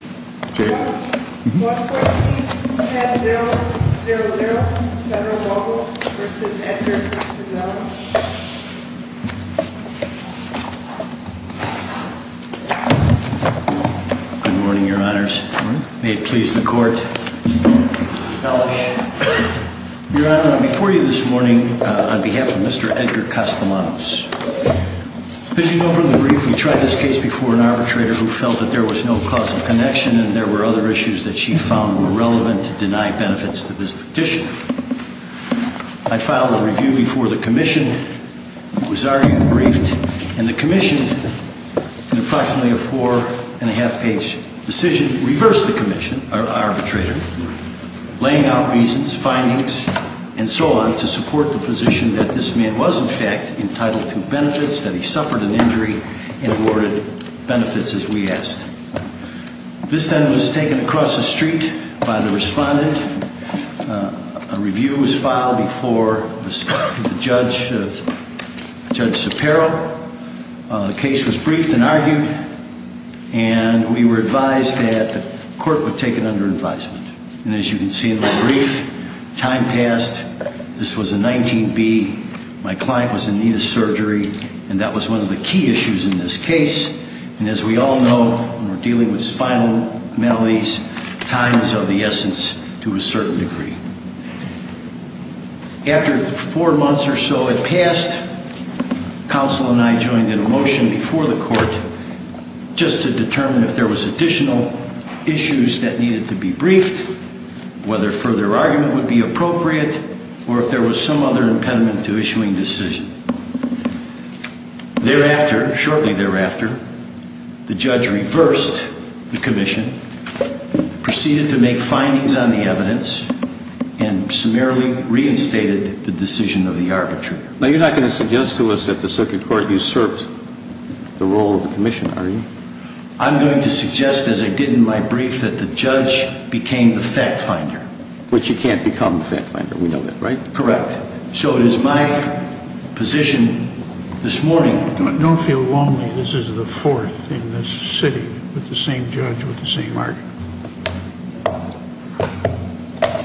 114-1000 Federal-Mogul v. Edgar Castellanos Good morning, Your Honors. May it please the Court. Your Honor, I'm before you this morning on behalf of Mr. Edgar Castellanos. Pitching over the brief, we tried this case before an arbitrator who felt that there was no causal connection, and there were other issues that she found were relevant to deny benefits to this petitioner. I filed a review before the Commission was argued, briefed, and the Commission, in approximately a four-and-a-half-page decision, reversed the arbitrator, laying out reasons, findings, and so on to support the position that this man was, in fact, entitled to benefits, that he suffered an injury, and awarded benefits as we asked. This, then, was taken across the street by the respondent. A review was filed before the judge, Judge Shapiro. The case was briefed and argued, and we were advised that the Court would take it under advisement. And as you can see in the brief, time passed. This was a 19B. My client was in need of surgery, and that was one of the key issues in this case. And as we all know, when we're dealing with spinal maladies, time is of the essence to a certain degree. After four months or so had passed, Counsel and I joined in a motion before the Court just to determine if there was additional issues that needed to be briefed, whether further argument would be appropriate, or if there was some other impediment to issuing decision. Thereafter, shortly thereafter, the judge reversed the Commission, proceeded to make findings on the evidence, and summarily reinstated the decision of the arbitrator. Now, you're not going to suggest to us that the Circuit Court usurped the role of the Commission, are you? I'm going to suggest, as I did in my brief, that the judge became the fact-finder. Which you can't become the fact-finder. We know that, right? Correct. So it is my position this morning... Don't feel lonely. This is the fourth in this city with the same judge with the same argument.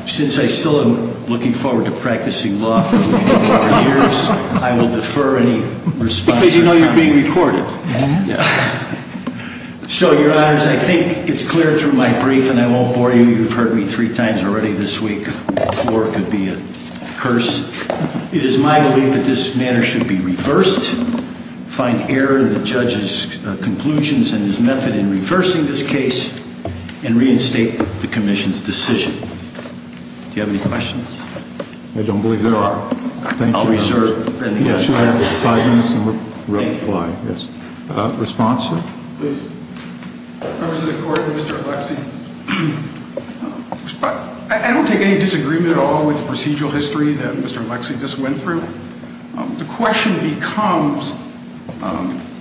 Since I still am looking forward to practicing law for a few more years, I will defer any responses. Because you know you're being recorded. So, Your Honors, I think it's clear through my brief, and I won't bore you. You've heard me three times already this week. Four could be a curse. It is my belief that this matter should be reversed, find error in the judge's conclusions and his method in reversing this case, and reinstate the Commission's decision. Do you have any questions? I don't believe there are. I'll reserve. Should I have five minutes to reply? Thank you. Responses? Please. Representative Gordon, Mr. Alexie. I don't take any disagreement at all with the procedural history that Mr. Alexie just went through. The question becomes,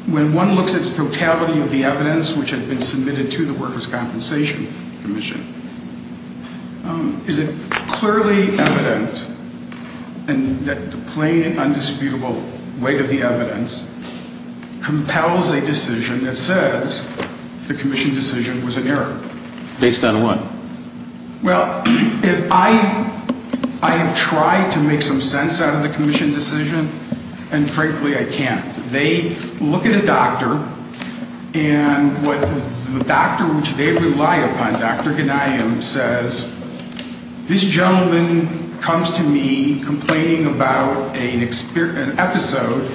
when one looks at the totality of the evidence which had been submitted to the Workers' Compensation Commission, is it clearly evident that the plain and undisputable weight of the evidence compels a decision that says the Commission decision was an error? Based on what? Well, I have tried to make some sense out of the Commission decision, and frankly, I can't. They look at a doctor, and the doctor which they rely upon, Dr. Ghanayem, says, this gentleman comes to me complaining about an episode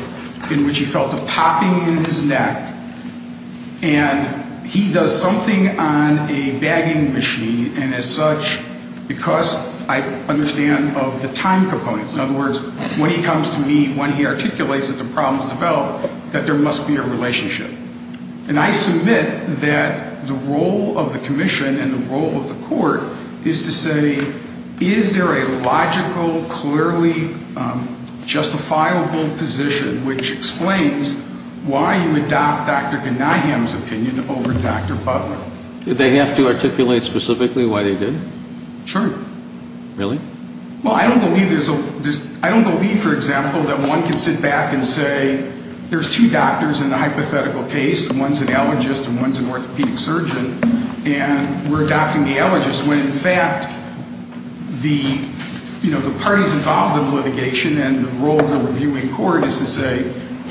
in which he felt a popping in his neck, and he does something on a bagging machine, and as such, because I understand of the time components. In other words, when he comes to me, when he articulates that the problem has developed, that there must be a relationship. And I submit that the role of the Commission and the role of the Court is to say, is there a logical, clearly justifiable position which explains why you adopt Dr. Ghanayem's opinion over Dr. Butler? Did they have to articulate specifically why they did? Sure. Really? Well, I don't believe there's a – I don't believe, for example, that one can sit back and say, there's two doctors in the hypothetical case, and one's an allergist and one's an orthopedic surgeon, and we're adopting the allergist when, in fact, the parties involved in litigation and the role of the reviewing court is to say,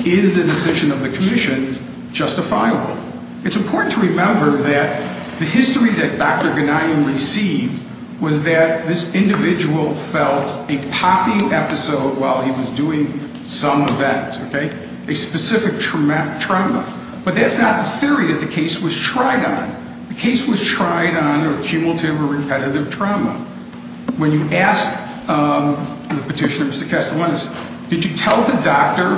is the decision of the Commission justifiable? It's important to remember that the history that Dr. Ghanayem received was that this individual felt a popping episode while he was doing some event, okay, a specific trauma. But that's not the theory that the case was tried on. The case was tried on a cumulative or repetitive trauma. When you asked the petitioner, Mr. Castellanos, did you tell the doctor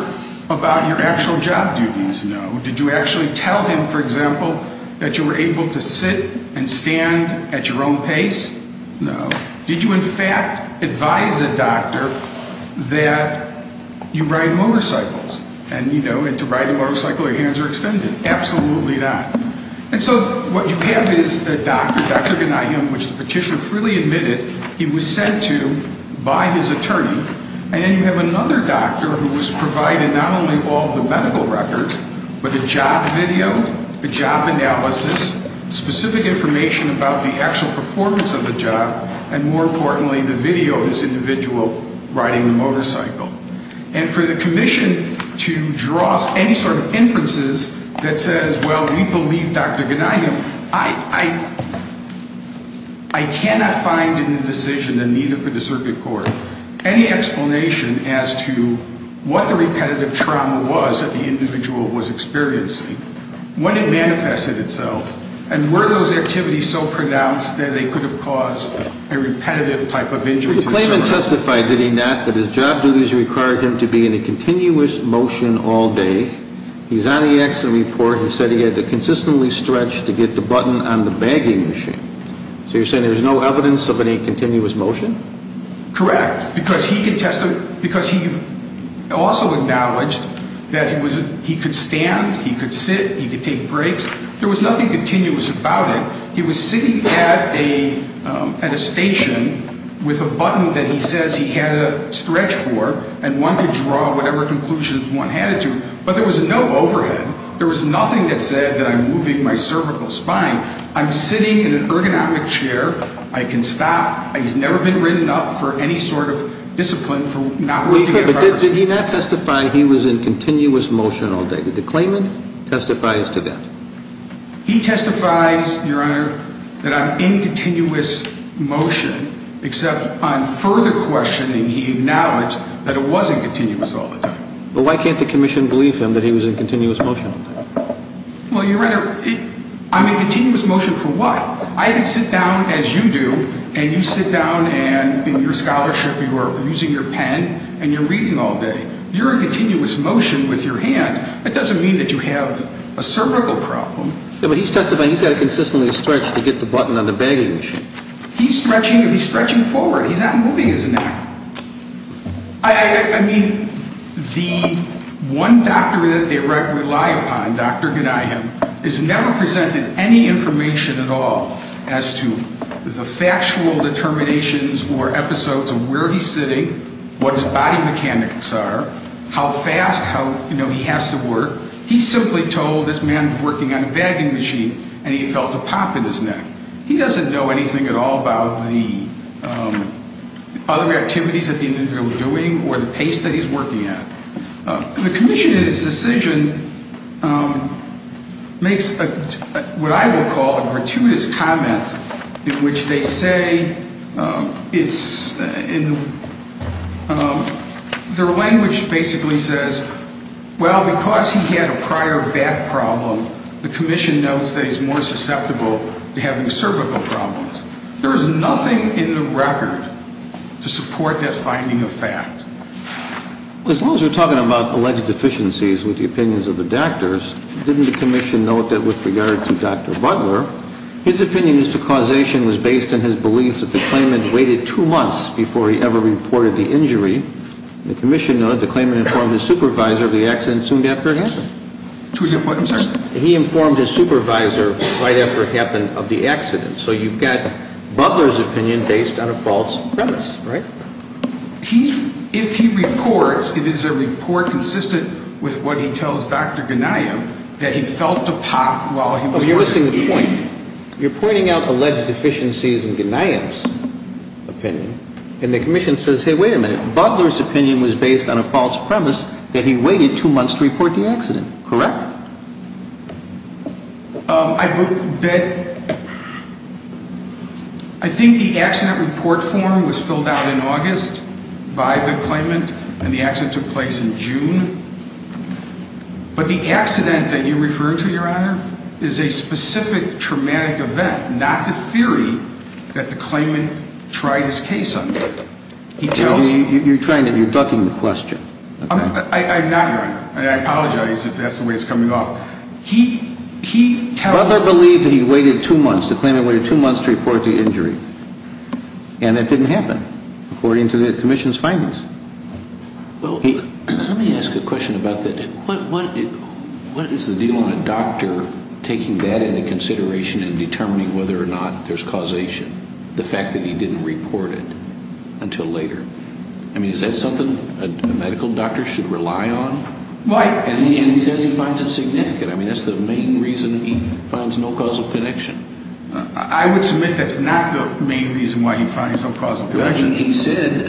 about your actual job duties? No. Did you actually tell him, for example, that you were able to sit and stand at your own pace? No. Did you, in fact, advise the doctor that you ride motorcycles and, you know, and to ride a motorcycle your hands are extended? Absolutely not. And so what you have is a doctor, Dr. Ghanayem, which the petitioner freely admitted he was sent to by his attorney, and then you have another doctor who was provided not only all the medical records, but a job video, a job analysis, specific information about the actual performance of the job, and more importantly, the video of this individual riding the motorcycle. And for the Commission to draw any sort of inferences that says, well, we believe Dr. Ghanayem, I cannot find in the decision, and neither could the circuit court, any explanation as to what the repetitive trauma was that the individual was experiencing, when it manifested itself, and were those activities so pronounced that they could have caused a repetitive type of injury to the survivor? The claimant testified, did he not, that his job duties required him to be in a continuous motion all day. He's on the accident report and said he had to consistently stretch to get the button on the bagging machine. So you're saying there's no evidence of any continuous motion? Correct, because he also acknowledged that he could stand, he could sit, he could take breaks. There was nothing continuous about it. He was sitting at a station with a button that he says he had to stretch for, and one could draw whatever conclusions one had to, but there was no overhead. There was nothing that said that I'm moving my cervical spine. I'm sitting in an ergonomic chair. I can stop. He's never been written up for any sort of discipline for not working at a pharmacy. But did he not testify he was in continuous motion all day? Did the claimant testify as to that? He testifies, Your Honor, that I'm in continuous motion, except on further questioning he acknowledged that it was in continuous all the time. But why can't the commission believe him that he was in continuous motion all day? Well, Your Honor, I'm in continuous motion for what? I can sit down as you do, and you sit down and in your scholarship you are using your pen and you're reading all day. You're in continuous motion with your hand. That doesn't mean that you have a cervical problem. Yeah, but he's testified he's got to consistently stretch to get the button on the bagging machine. He's stretching, he's stretching forward. He's not moving his neck. I mean, the one doctor that they rely upon, Dr. Ganihim, has never presented any information at all as to the factual determinations or episodes of where he's sitting, what his body mechanics are, how fast he has to work. He simply told this man's working on a bagging machine, and he felt a pop in his neck. He doesn't know anything at all about the other activities that he was doing or the pace that he's working at. The commission, in its decision, makes what I would call a gratuitous comment in which they say it's in their language, basically says, well, because he had a prior back problem, the commission notes that he's more susceptible to having cervical problems. There is nothing in the record to support that finding of fact. As long as we're talking about alleged deficiencies with the opinions of the doctors, didn't the commission note that with regard to Dr. Butler, his opinion as to causation was based on his belief that the claimant waited two months before he ever reported the injury? The commission noted the claimant informed his supervisor of the accident soon after it happened. He informed his supervisor right after it happened of the accident. So you've got Butler's opinion based on a false premise, right? If he reports, it is a report consistent with what he tells Dr. Gnayem that he felt a pop while he was working here. You're missing the point. You're pointing out alleged deficiencies in Gnayem's opinion, and the commission says, hey, wait a minute. Butler's opinion was based on a false premise that he waited two months to report the accident, correct? I think the accident report form was filled out in August by the claimant, and the accident took place in June. But the accident that you refer to, Your Honor, is a specific traumatic event, not the theory that the claimant tried his case under. You're ducking the question. I'm not, Your Honor. I apologize if that's the way it's coming off. Butler believed that he waited two months, the claimant waited two months to report the injury, and that didn't happen according to the commission's findings. Let me ask a question about that. What is the deal on a doctor taking that into consideration in determining whether or not there's causation, the fact that he didn't report it until later? I mean, is that something a medical doctor should rely on? Right. And he says he finds it significant. I mean, that's the main reason he finds no causal connection. I would submit that's not the main reason why he finds no causal connection. He said,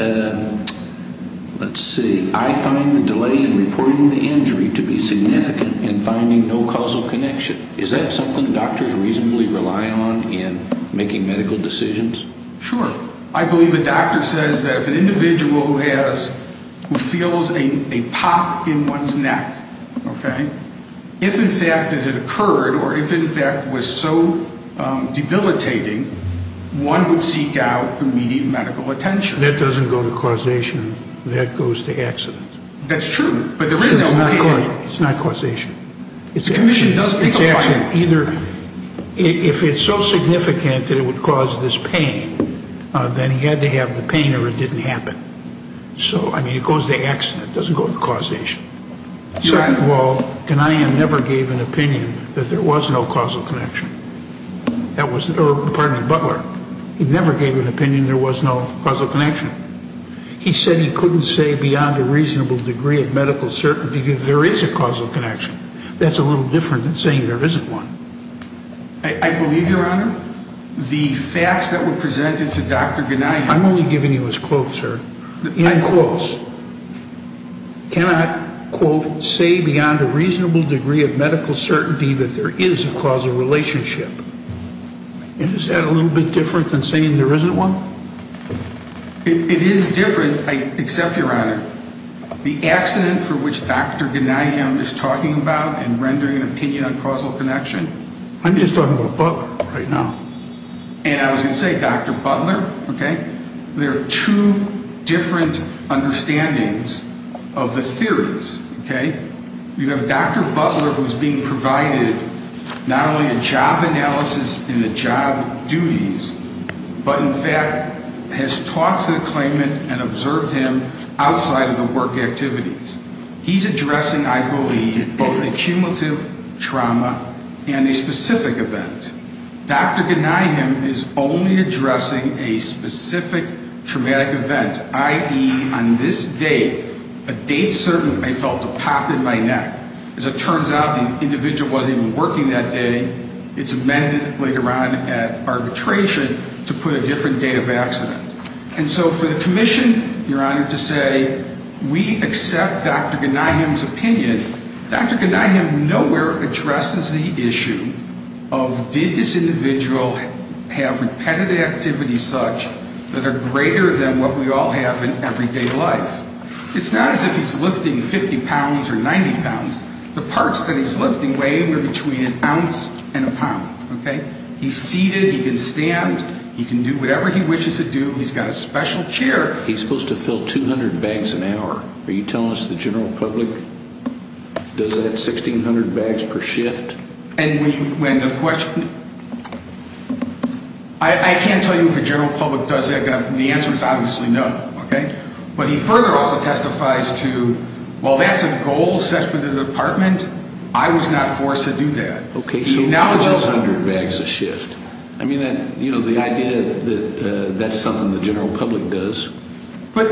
let's see, I find the delay in reporting the injury to be significant in finding no causal connection. Is that something doctors reasonably rely on in making medical decisions? Sure. I believe the doctor says that if an individual who feels a pop in one's neck, okay, if in fact it had occurred or if in fact was so debilitating, one would seek out immediate medical attention. That doesn't go to causation. That goes to accident. That's true. It's not causation. It's accident. If it's so significant that it would cause this pain, then he had to have the pain or it didn't happen. So, I mean, it goes to accident. It doesn't go to causation. Second of all, Ghanaian never gave an opinion that there was no causal connection. Pardon me, Butler. He never gave an opinion there was no causal connection. He said he couldn't say beyond a reasonable degree of medical certainty that there is a causal connection. That's a little different than saying there isn't one. I believe, Your Honor, the facts that were presented to Dr. Ghanaian. I'm only giving you his quotes, sir. I'm close. Cannot, quote, say beyond a reasonable degree of medical certainty that there is a causal relationship. Is that a little bit different than saying there isn't one? It is different, except, Your Honor, the accident for which Dr. Ghanaian is talking about and rendering an opinion on causal connection. I'm just talking about Butler right now. And I was going to say Dr. Butler, okay? There are two different understandings of the theories, okay? You have Dr. Butler who is being provided not only a job analysis in the job duties, but, in fact, has talked to the claimant and observed him outside of the work activities. He's addressing, I believe, both the cumulative trauma and a specific event. Dr. Ghanaian is only addressing a specific traumatic event, i.e., on this date, a date certain I felt a pop in my neck. As it turns out, the individual wasn't even working that day. It's amended later on at arbitration to put a different date of accident. And so for the commission, Your Honor, to say we accept Dr. Ghanaian's opinion, Dr. Ghanaian nowhere addresses the issue of did this individual have repetitive activities such that are greater than what we all have in everyday life. It's not as if he's lifting 50 pounds or 90 pounds. The parts that he's lifting weigh in between an ounce and a pound, okay? He's seated. He can stand. He can do whatever he wishes to do. He's got a special chair. He's supposed to fill 200 bags an hour. Are you telling us the general public does that 1,600 bags per shift? I can't tell you if the general public does that. The answer is obviously no, okay? But he further also testifies to, well, that's a goal set for the department. I was not forced to do that. He acknowledges 100 bags a shift. I mean, you know, the idea that that's something the general public does. But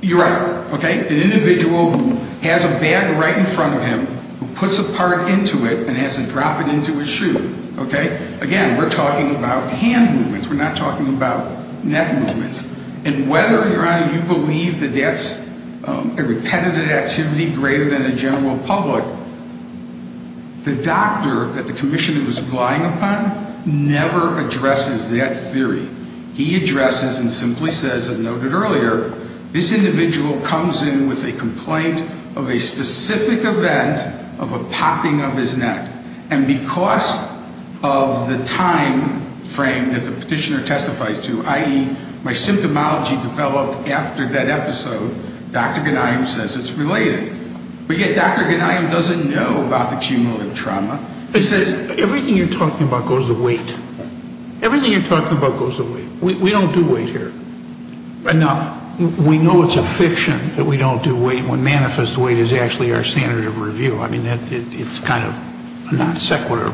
you're right, okay? An individual who has a bag right in front of him, who puts a part into it and has to drop it into his shoe, okay? Again, we're talking about hand movements. We're not talking about neck movements. And whether, Your Honor, you believe that that's a repetitive activity greater than the general public, the doctor that the commissioner was relying upon never addresses that theory. He addresses and simply says, as noted earlier, this individual comes in with a complaint of a specific event of a popping of his neck. And because of the time frame that the petitioner testifies to, i.e., my symptomology developed after that episode, Dr. Ghanayim says it's related. But yet Dr. Ghanayim doesn't know about the cumulative trauma. He says, everything you're talking about goes to weight. Everything you're talking about goes to weight. We don't do weight here. Enough. We know it's a fiction that we don't do weight when manifest weight is actually our standard of review. I mean, it's kind of non-sequitur.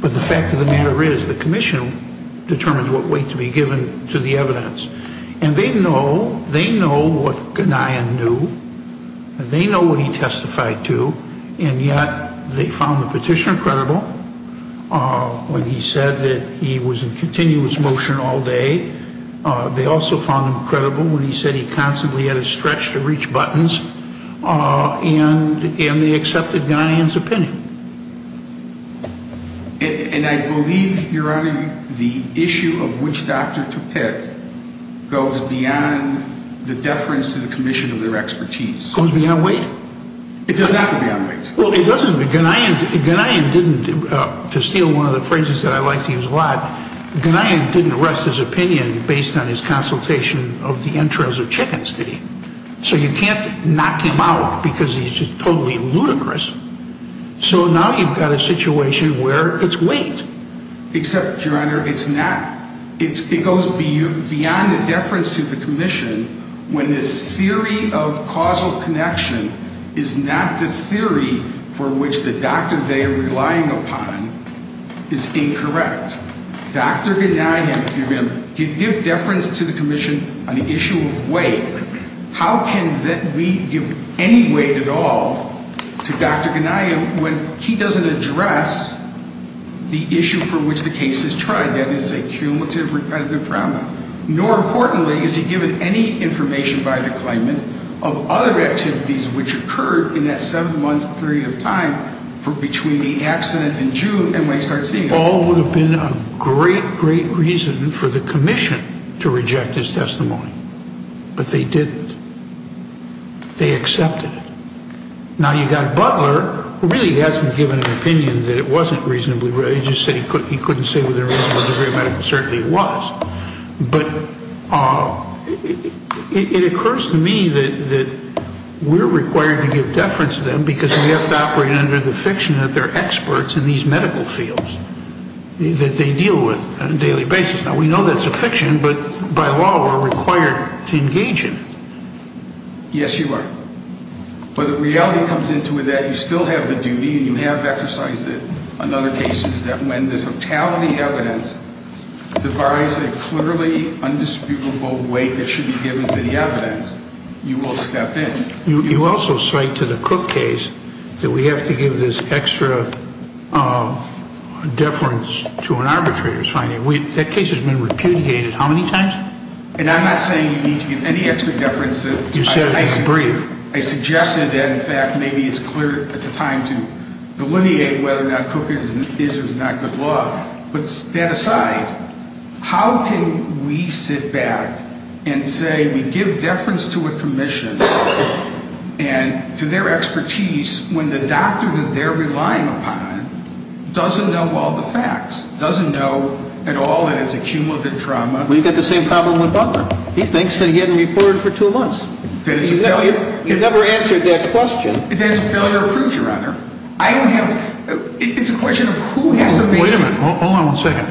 But the fact of the matter is the commission determines what weight to be given to the evidence. And they know what Ghanayim knew. They know what he testified to. And yet they found the petitioner credible when he said that he was in continuous motion all day. They also found him credible when he said he constantly had to stretch to reach buttons. And they accepted Ghanayim's opinion. And I believe, Your Honor, the issue of which doctor to pick goes beyond the deference to the commission of their expertise. Goes beyond weight. It does not go beyond weight. Well, it doesn't. Ghanayim didn't, to steal one of the phrases that I like to use a lot, Ghanayim didn't rest his opinion based on his consultation of the entrails of chickens, did he? So you can't knock him out because he's just totally ludicrous. So now you've got a situation where it's weight. Except, Your Honor, it's not. It goes beyond the deference to the commission when the theory of causal connection is not the theory for which the doctor they are relying upon is incorrect. Dr. Ghanayim, if you're going to give deference to the commission on the issue of weight, how can we give any weight at all to Dr. Ghanayim when he doesn't address the issue for which the case is tried? That is a cumulative repetitive trauma. Nor, importantly, is he given any information by the claimant of other activities which occurred in that seven-month period of time between the accident in June and when he started seeing them. They all would have been a great, great reason for the commission to reject his testimony. But they didn't. They accepted it. Now, you've got Butler, who really hasn't given an opinion that it wasn't reasonably, he just said he couldn't say with a reasonable degree of medical certainty it was. But it occurs to me that we're required to give deference to them because we have to operate under the fiction that they're experts in these medical fields, that they deal with on a daily basis. Now, we know that's a fiction, but by law we're required to engage in it. Yes, you are. But the reality comes into it that you still have the duty, and you have exercised it on other cases, that when the totality of the evidence defies a clearly undisputable weight that should be given to the evidence, you will step in. You also cite to the Cook case that we have to give this extra deference to an arbitrator's finding. That case has been repudiated how many times? And I'm not saying you need to give any extra deference. You said it was brief. I suggested that, in fact, maybe it's a time to delineate whether or not Cook is or is not good law. But that aside, how can we sit back and say we give deference to a commission and to their expertise when the doctor that they're relying upon doesn't know all the facts, doesn't know at all that it's accumulative trauma? Well, you've got the same problem with Butler. He thinks that he hadn't reported for two months. That it's a failure? You've never answered that question. That it's a failure of proof, Your Honor. I don't have – it's a question of who has the basis. Wait a minute. Hold on one second.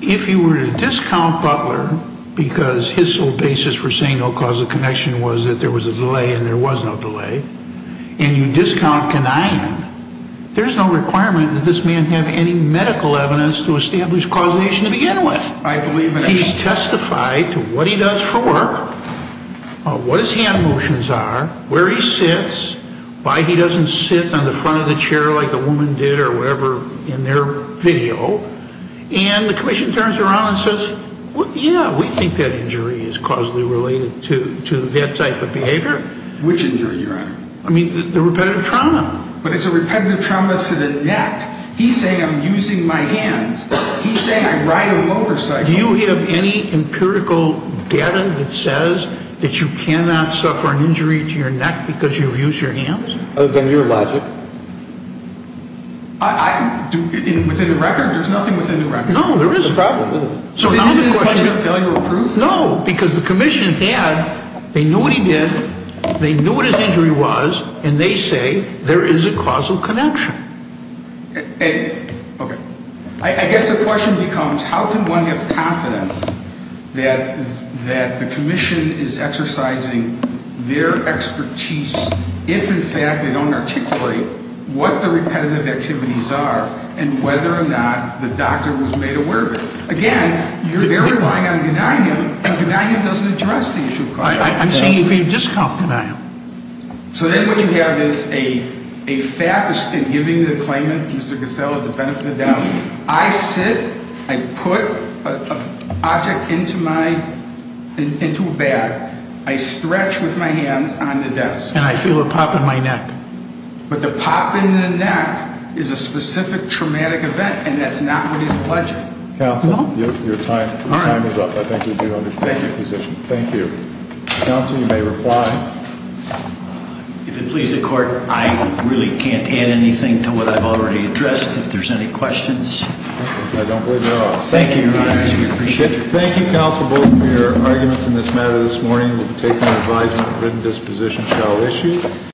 If you were to discount Butler because his whole basis for saying no cause of connection was that there was a delay and there was no delay, and you discount Kanian, there's no requirement that this man have any medical evidence to establish causation to begin with. He's testified to what he does for work, what his hand motions are, where he sits, why he doesn't sit on the front of the chair like the woman did or whatever in their video. And the commission turns around and says, yeah, we think that injury is causally related to that type of behavior. Which injury, Your Honor? I mean the repetitive trauma. But it's a repetitive trauma to the neck. He's saying I'm using my hands. He's saying I ride a motorcycle. Do you have any empirical data that says that you cannot suffer an injury to your neck because you've used your hands? Other than your logic. I can do – within the record, there's nothing within the record. No, there isn't. It's a problem, isn't it? So now the question – It isn't a question of failure of proof? No, because the commission had – they knew what he did, they knew what his injury was, and they say there is a causal connection. Okay. I guess the question becomes, how can one have confidence that the commission is exercising their expertise if, in fact, they don't articulate what the repetitive activities are and whether or not the doctor was made aware of it? Again, you're there relying on Gnanium, and Gnanium doesn't address the issue. I'm saying you can't discount Gnanium. So then what you have is a fact in giving the claimant, Mr. Costello, the benefit of the doubt. I sit, I put an object into a bag, I stretch with my hands on the desk. And I feel a pop in my neck. But the pop in the neck is a specific traumatic event, and that's not what he's alleging. Counsel, your time is up. I think you do understand your position. Thank you. Counsel, you may reply. If it pleases the court, I really can't add anything to what I've already addressed. If there's any questions. I don't believe there are. Thank you, Your Honors. We appreciate it. Thank you, counsel, both for your arguments in this matter this morning. We'll take an advisement written disposition shall issue.